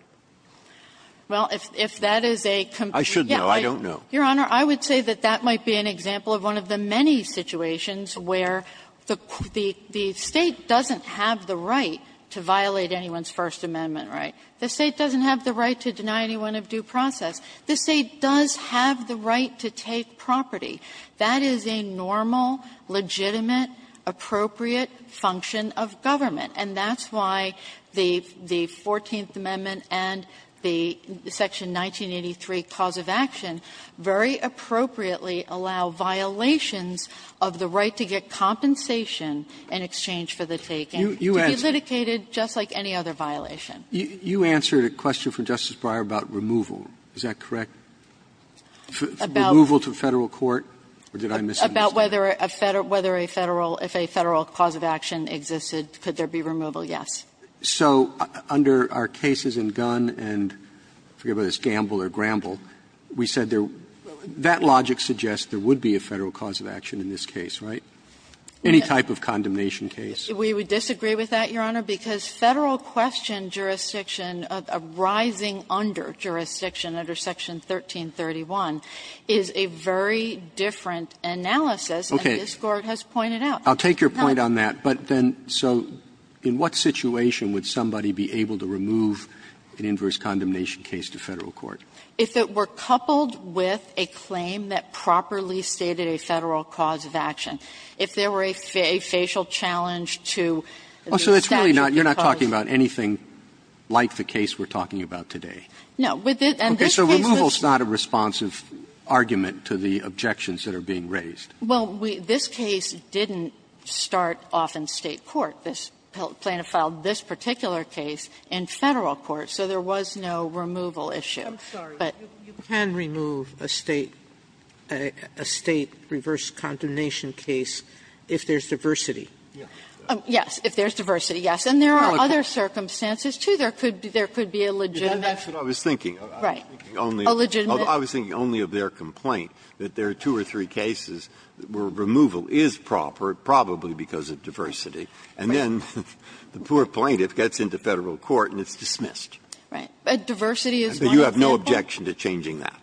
Well, if that is a complete question, I don't know. Your Honor, I would say that that might be an example of one of the many situations where the State doesn't have the right to violate anyone's First Amendment right. The State doesn't have the right to deny anyone of due process. This State does have the right to take property. That is a normal, legitimate, appropriate function of government, and that's why the 14th Amendment and the section 1983 cause of action very appropriately allow violations of the right to get compensation in exchange for the taken to be litigated just like any other violation. You answered a question from Justice Breyer about removal. Is that correct? Removal to Federal court, or did I miss something? About whether a Federal – if a Federal cause of action existed, could there be removal? Yes. So under our cases in Gunn and, I forget whether it's Gamble or Gramble, we said there – that logic suggests there would be a Federal cause of action in this case, right? Any type of condemnation case. We would disagree with that, Your Honor, because Federal question jurisdiction arising under jurisdiction under section 1331 is a very different analysis. Okay. And this Court has pointed out. I'll take your point on that, but then so in what situation would somebody be able to remove an inverse condemnation case to Federal court? If it were coupled with a claim that properly stated a Federal cause of action. If there were a facial challenge to the statute because of the statute. Oh, so it's really not – you're not talking about anything like the case we're talking about today? No. And this case was – Okay. So removal is not a responsive argument to the objections that are being raised. Well, we – this case didn't start off in State court. This plaintiff filed this particular case in Federal court, so there was no removal issue. I'm sorry. But you can remove a State – a State reverse condemnation case if there's diversity. Yes, if there's diversity, yes. And there are other circumstances, too. There could be a legitimate. That's what I was thinking. Right. A legitimate. I was thinking only of their complaint, that there are two or three cases where removal is proper, probably because of diversity, and then the poor plaintiff gets into Federal court and it's dismissed. But diversity is one of the – But you have no objection to changing that?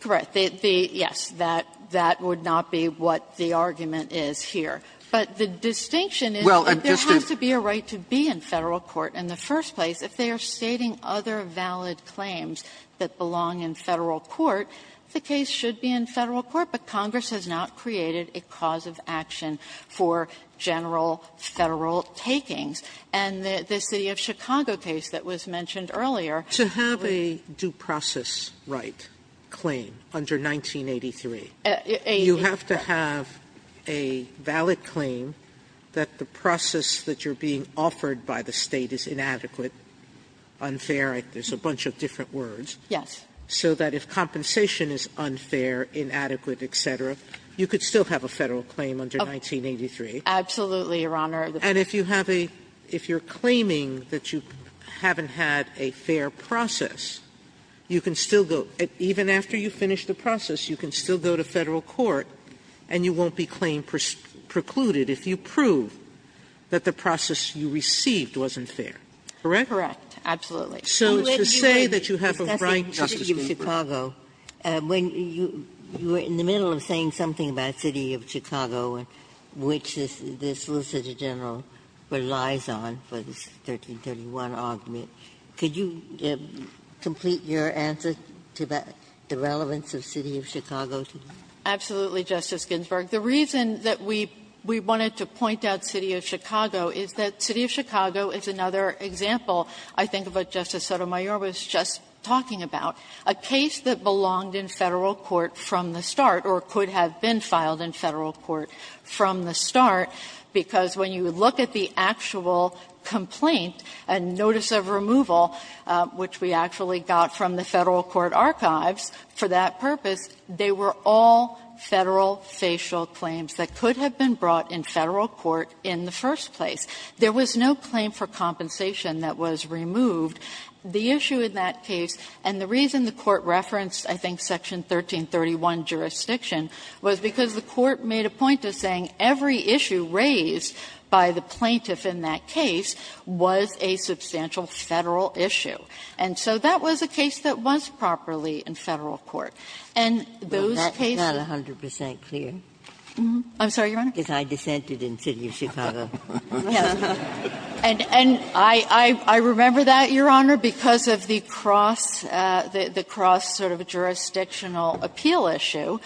Correct. The – yes, that would not be what the argument is here. But the distinction is that there has to be a right to be in Federal court in the case should be in Federal court, but Congress has not created a cause of action for general Federal takings. And the City of Chicago case that was mentioned earlier – To have a due process right claim under 1983, you have to have a valid claim that the process that you're being offered by the State is inadequate, unfair, there's a bunch of different words. Yes. So that if compensation is unfair, inadequate, et cetera, you could still have a Federal claim under 1983. Absolutely, Your Honor. And if you have a – if you're claiming that you haven't had a fair process, you can still go – even after you finish the process, you can still go to Federal court and you won't be claim precluded if you prove that the process you received wasn't fair, correct? Correct, absolutely. So it's to say that you have a right to be in Federal court. Justice Ginsburg, when you were in the middle of saying something about City of Chicago, which this solicitor general relies on for the 1331 argument, could you complete your answer to the relevance of City of Chicago? Absolutely, Justice Ginsburg. The reason that we wanted to point out City of Chicago is that City of Chicago is another example, I think, of what Justice Sotomayor was just talking about, a case that belonged in Federal court from the start or could have been filed in Federal court from the start, because when you look at the actual complaint and notice of removal, which we actually got from the Federal court archives for that purpose, they were all Federal facial claims that could have been brought in Federal court in the first place. There was no claim for compensation that was removed. The issue in that case, and the reason the Court referenced, I think, section 1331 jurisdiction was because the Court made a point of saying every issue raised by the plaintiff in that case was a substantial Federal issue. And so that was a case that was properly in Federal court. And those cases are not 100 percent clear. I'm sorry, Your Honor? Ginsburg, because I dissented in City of Chicago. And I remember that, Your Honor, because of the cross, the cross sort of jurisdictional appeal issue,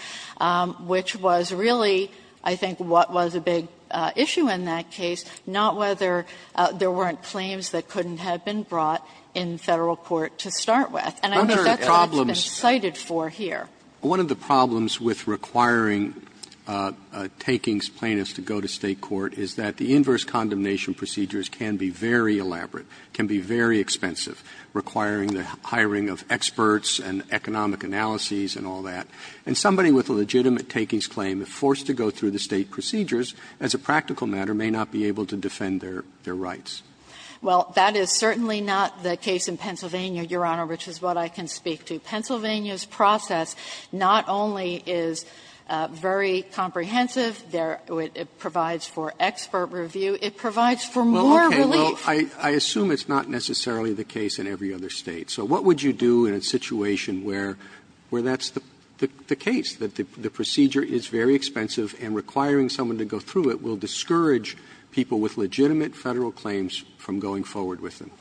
which was really, I think, what was a big issue in that case, not whether there weren't claims that couldn't have been brought in Federal court to start with. And I think that's what it's been cited for here. Roberts, one of the problems with requiring a takings plaintiff to go to State court is that the inverse condemnation procedures can be very elaborate, can be very expensive, requiring the hiring of experts and economic analyses and all that. And somebody with a legitimate takings claim, if forced to go through the State procedures, as a practical matter, may not be able to defend their rights. Well, that is certainly not the case in Pennsylvania, Your Honor, which is what I can speak to. Pennsylvania's process not only is very comprehensive, it provides for expert review, it provides for more relief. Roberts, I assume it's not necessarily the case in every other State. So what would you do in a situation where that's the case, that the procedure is very expensive and requiring someone to go through it will discourage people with legitimate Federal claims from going forward with them?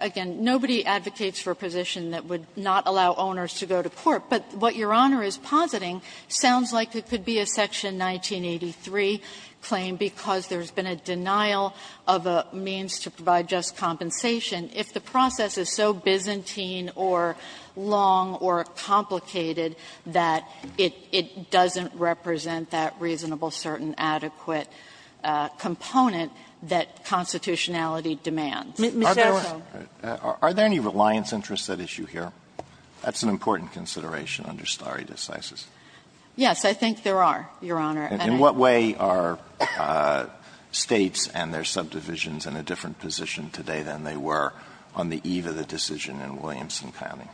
Again, nobody advocates for a position that would not allow owners to go to court. But what Your Honor is positing sounds like it could be a Section 1983 claim because there's been a denial of a means to provide just compensation if the process is so Byzantine or long or complicated that it doesn't represent that reasonable, certain, adequate component that constitutionality demands. Are there any reliance interests at issue here? That's an important consideration under stare decisis. Yes, I think there are, Your Honor. And in what way are States and their subdivisions in a different position today than they were on the eve of the decision in Williamson County?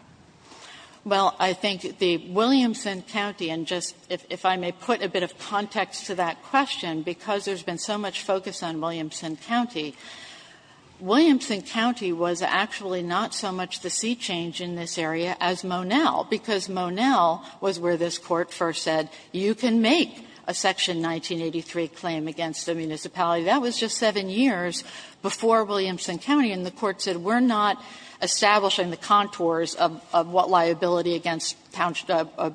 Well, I think the Williamson County, and just if I may put a bit of context to that Williamson County was actually not so much the sea change in this area as Monell, because Monell was where this Court first said you can make a Section 1983 claim against a municipality. That was just 7 years before Williamson County, and the Court said we're not establishing the contours of what liability against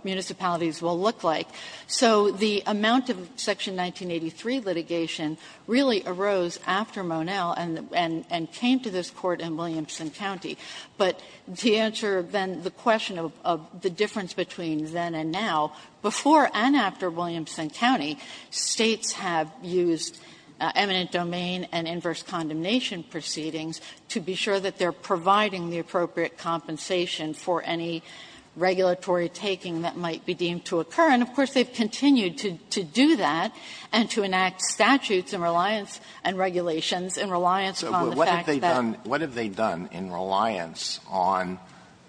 municipalities will look like. So the amount of Section 1983 litigation really arose after Monell and came to this Court in Williamson County. But to answer then the question of the difference between then and now, before and after Williamson County, States have used eminent domain and inverse condemnation proceedings to be sure that they're providing the appropriate compensation for any regulatory taking that might be deemed to occur. And, of course, they've continued to do that and to enact statutes and reliance and regulations in reliance on the fact that they've done. Alitoso What have they done in reliance on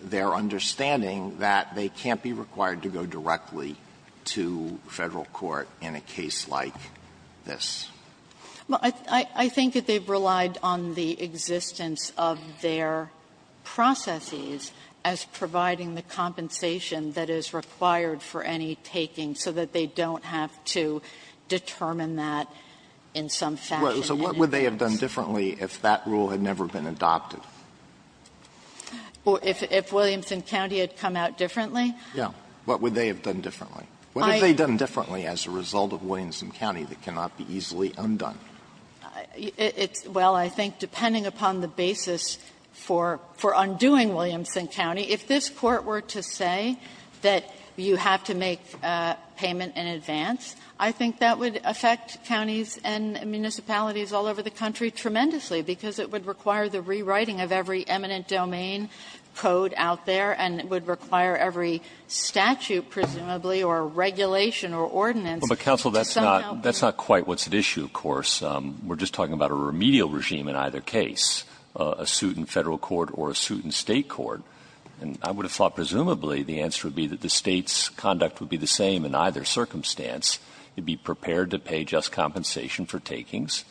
their understanding that they can't be required to go directly to Federal court in a case like this? Well, I think that they've relied on the existence of their processes as providing the compensation that is required for any taking, so that they don't have to determine that in some fashion. Alitoso So what would they have done differently if that rule had never been adopted? Or if Williamson County had come out differently? Alitoso Yeah. What would they have done differently? What have they done differently as a result of Williamson County that cannot be easily undone? It's well, I think depending upon the basis for undoing Williamson County, if this Court were to say that you have to make payment in advance, I think that would affect counties and municipalities all over the country tremendously, because it would require the rewriting of every eminent domain code out there, and it would require every statute, presumably, or regulation or ordinance to somehow do that. Alitoso But, counsel, that's not quite what's at issue, of course. We're just talking about a remedial regime in either case, a suit in Federal court or a suit in State court. And I would have thought, presumably, the answer would be that the State's conduct would be the same in either circumstance. It would be prepared to pay just compensation for takings,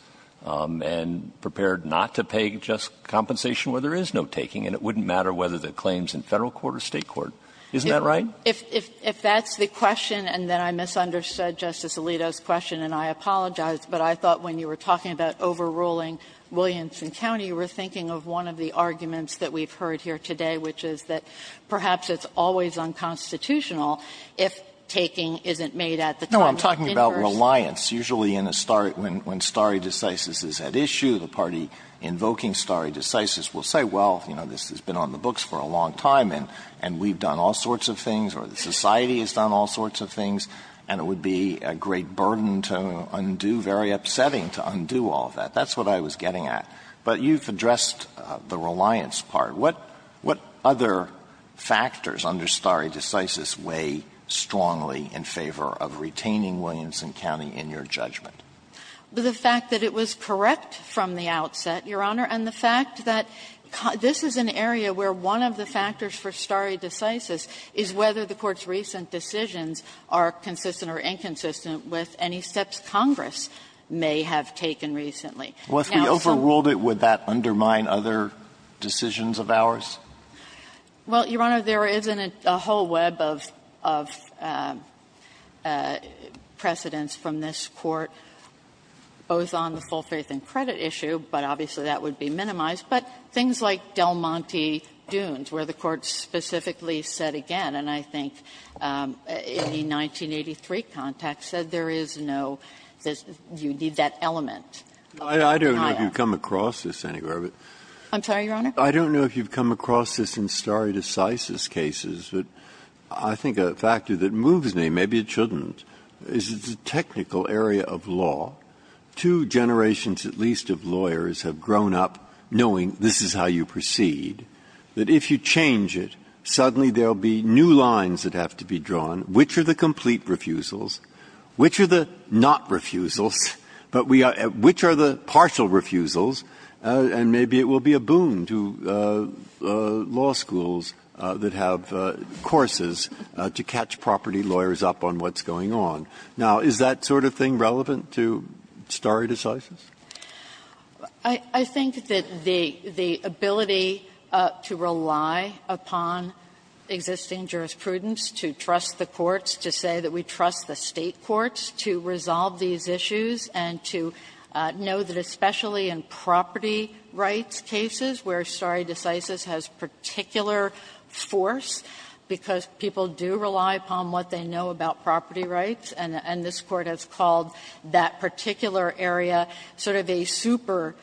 and prepared not to pay just compensation where there is no taking, and it wouldn't matter whether the claim is in Federal court or State court. Isn't that right? Kagan If that's the question, and then I misunderstood Justice Alito's question, and I apologize, but I thought when you were talking about overruling Williamson County, you were thinking of one of the arguments that we've heard here today, which is that perhaps it's always unconstitutional if taking isn't made at the time of interest. Alito No, I'm talking about reliance, usually in a start when stare decisis is at issue, the party invoking stare decisis will say, well, you know, this has been on the books for a long time, and we've done all sorts of things, or the society has done all sorts of things, and it would be a great burden to undo, very upsetting to undo all of that. That's what I was getting at. But you've addressed the reliance part. What other factors under stare decisis weigh strongly in favor of retaining Williamson County in your judgment? Kagan The fact that it was correct from the outset, Your Honor, and the fact that this is an area where one of the factors for stare decisis is whether the Court's recent decisions are consistent or inconsistent with any steps Congress may have taken recently. Now, some of the other factors that are under stare decisis weigh strongly in favor of retaining Williamson County in your judgment. Alito Well, if we overruled it, would that undermine other decisions of ours? Kagan Well, Your Honor, there isn't a whole web of precedents from this Court, both on the full faith and credit issue, but obviously that would be minimized, but things like Del Monte Dunes, where the Court specifically said again, and I think in the 1983 context said there is no, you need that element of denial. Breyer I don't know if you've come across this anywhere. Kagan I'm sorry, Your Honor? Breyer I don't know if you've come across this in stare decisis cases, but I think a factor that moves me, maybe it shouldn't, is it's a technical area of law. Two generations, at least, of lawyers have grown up knowing this is how you proceed, that if you change it, suddenly there will be new lines that have to be drawn, which are the complete refusals, which are the not refusals, but we are at which are the partial refusals, and maybe it will be a boon to law schools that have courses to catch property lawyers up on what's going on. Now, is that sort of thing relevant to stare decisis? Kagan I think that the ability to rely upon existing jurisprudence, to trust the courts, to say that we trust the State courts, to resolve these issues, and to know that especially in property rights cases where stare decisis has particular force, because people do rely upon what they know about property rights, and this Court has called that particular area sort of a super-specialized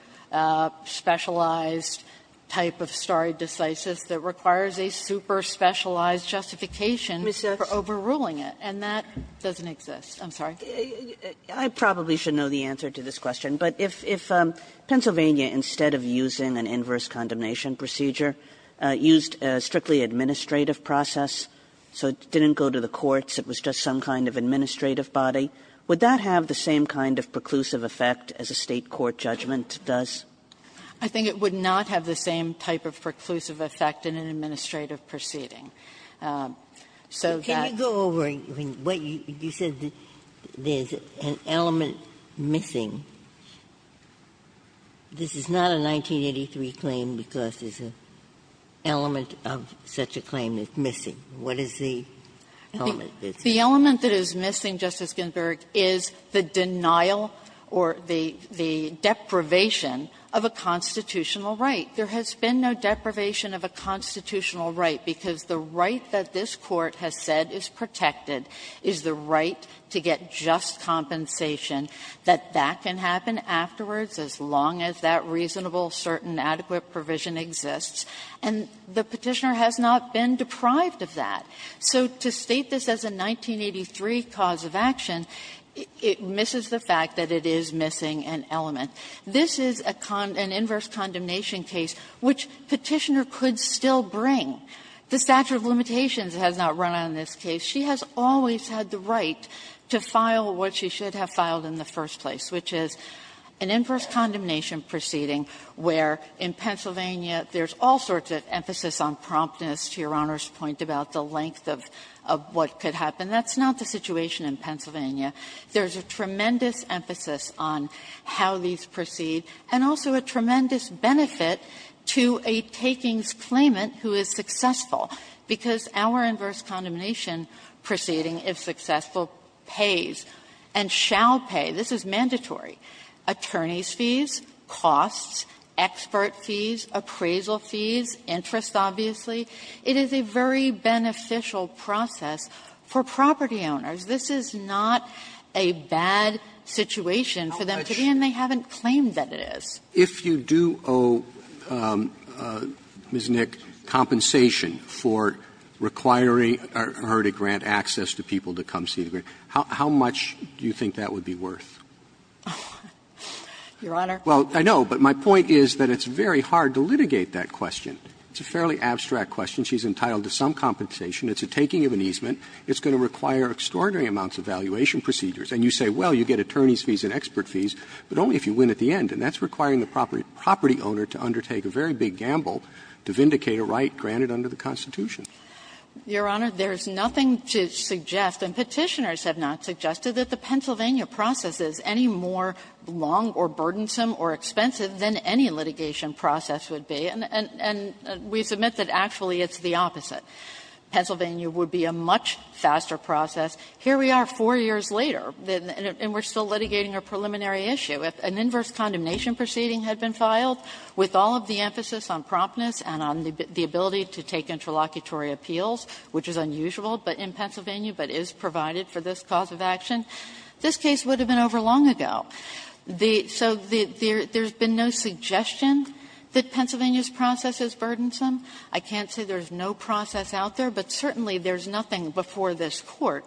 type of stare decisis that requires a super-specialized justification for overruling it, and that doesn't exist. I'm sorry. Kagan I probably should know the answer to this question, but if Pennsylvania, instead of using an inverse condemnation procedure, used a strictly administrative process, so it didn't go to the courts, it was just some kind of administrative body, would that have the same kind of preclusive effect as a State court judgment does? I think it would not have the same type of preclusive effect in an administrative proceeding. So that's why I'm not sure I have the answer to this question, but I'm not sure I have the answer to that. Ginsburg This is not a 1983 claim because there's an element of such a claim that's missing. What is the element that's missing? Kagan The element that is missing, Justice Ginsburg, is the denial or the deprivation of a constitutional right. There has been no deprivation of a constitutional right, because the right that this Court has said is protected is the right to get just compensation, that that can happen afterwards as long as that reasonable, certain, adequate provision exists. And the Petitioner has not been deprived of that. So to state this as a 1983 cause of action, it misses the fact that it is missing an element. This is a con an inverse condemnation case, which Petitioner could still bring. The statute of limitations has not run out in this case. She has always had the right to file what she should have filed in the first place, which is an inverse condemnation proceeding where, in Pennsylvania, there's all sorts of emphasis on promptness to Your Honor's point about the length of what could happen. That's not the situation in Pennsylvania. There's a tremendous emphasis on how these proceed, and also a tremendous benefit to a takings claimant who is successful, because our inverse condemnation proceeding, if successful, pays and shall pay. This is mandatory. Attorneys' fees, costs, expert fees, appraisal fees, interest, obviously. It is a very beneficial process for property owners. This is not a bad situation for them to be in. They haven't claimed that it is. Roberts. If you do owe Ms. Nick compensation for requiring her to grant access to people to come see the grant, how much do you think that would be worth? Your Honor. Well, I know, but my point is that it's very hard to litigate that question. It's a fairly abstract question. She's entitled to some compensation. It's a taking of an easement. It's going to require extraordinary amounts of valuation procedures. And you say, well, you get attorneys' fees and expert fees, but only if you win at the end. And that's requiring the property owner to undertake a very big gamble to vindicate a right granted under the Constitution. Your Honor, there's nothing to suggest, and Petitioners have not suggested, that the Pennsylvania process is any more long or burdensome or expensive than any litigation process would be. And we submit that actually it's the opposite. Pennsylvania would be a much faster process. Here we are 4 years later, and we're still litigating a preliminary issue. If an inverse condemnation proceeding had been filed, with all of the emphasis on promptness and on the ability to take interlocutory appeals, which is unusual in Pennsylvania, but is provided for this cause of action, this case would have been over long ago. So there's been no suggestion that Pennsylvania's process is burdensome. I can't say there's no process out there, but certainly there's nothing before this Court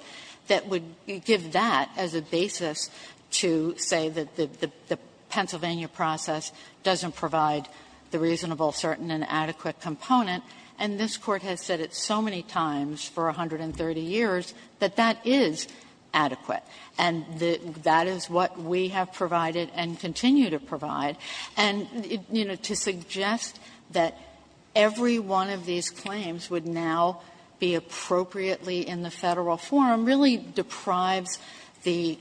that would give that as a basis to say that the Pennsylvania process doesn't provide the reasonable, certain, and adequate component. And this Court has said it so many times for 130 years that that is adequate. And that is what we have provided and continue to provide. And, you know, to suggest that every one of these claims would now be appropriately in the Federal forum really deprives the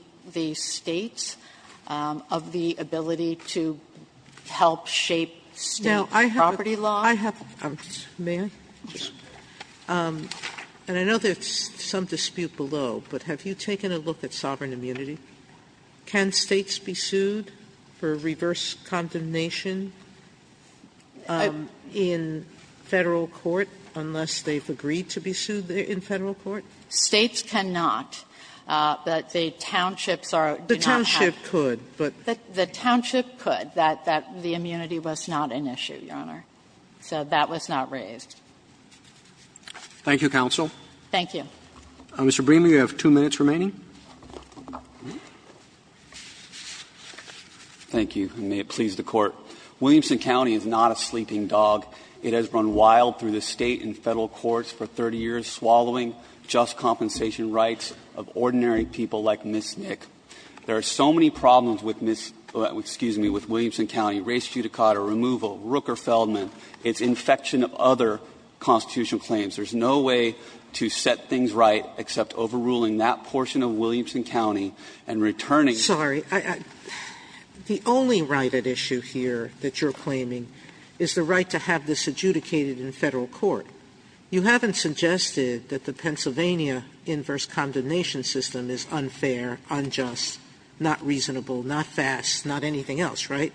States of the ability to do the right thing, to help shape State property law. Sotomayor, and I know there's some dispute below, but have you taken a look at sovereign immunity? Can States be sued for reverse condemnation in Federal court unless they've agreed to be sued in Federal court? States cannot. The townships are not. The township could, but. The township could, that the immunity was not an issue, Your Honor. So that was not raised. Roberts. Thank you, counsel. Thank you. Mr. Breamer, you have two minutes remaining. Thank you, and may it please the Court. Williamson County is not a sleeping dog. It has run wild through the State and Federal courts for 30 years, swallowing just compensation rights of ordinary people like Ms. Nick. There are so many problems with Ms. – excuse me, with Williamson County, race judicata removal, Rooker-Feldman, its infection of other constitutional claims. There's no way to set things right except overruling that portion of Williamson County and returning. Sotomayor, the only right at issue here that you're claiming is the right to have this adjudicated in Federal court. You haven't suggested that the Pennsylvania inverse condemnation system is unfair, unjust, not reasonable, not fast, not anything else, right?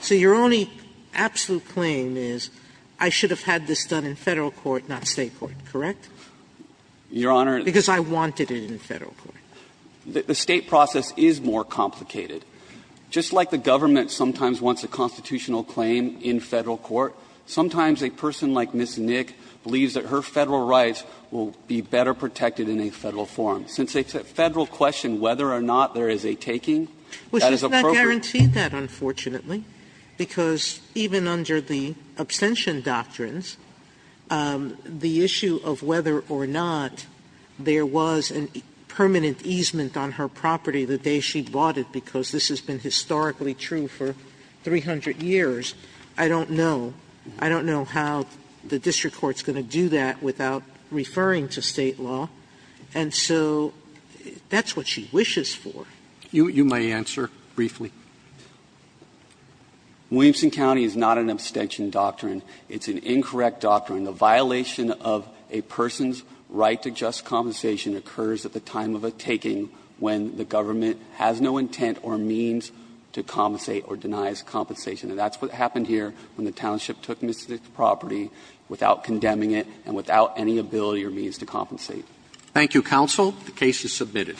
So your only absolute claim is I should have had this done in Federal court, not State court, correct? Your Honor. Because I wanted it in Federal court. The State process is more complicated. Just like the government sometimes wants a constitutional claim in Federal court, sometimes a person like Ms. Nick believes that her Federal rights will be better protected in a Federal forum. Since it's a Federal question whether or not there is a taking, that is appropriate. Sotomayor, which does not guarantee that, unfortunately, because even under the abstention doctrines, the issue of whether or not there was a permanent easement on her property the day she bought it, because this has been historically true for 300 years, I don't know. I don't know how the district court is going to do that without referring to State law. And so that's what she wishes for. Roberts, you may answer briefly. Williamson County is not an abstention doctrine. It's an incorrect doctrine. The violation of a person's right to just compensation occurs at the time of a taking when the government has no intent or means to compensate or denies compensation. And that's what happened here when the township took Ms. Nick's property without condemning it and without any ability or means to compensate. Thank you, Counsel. The case is submitted.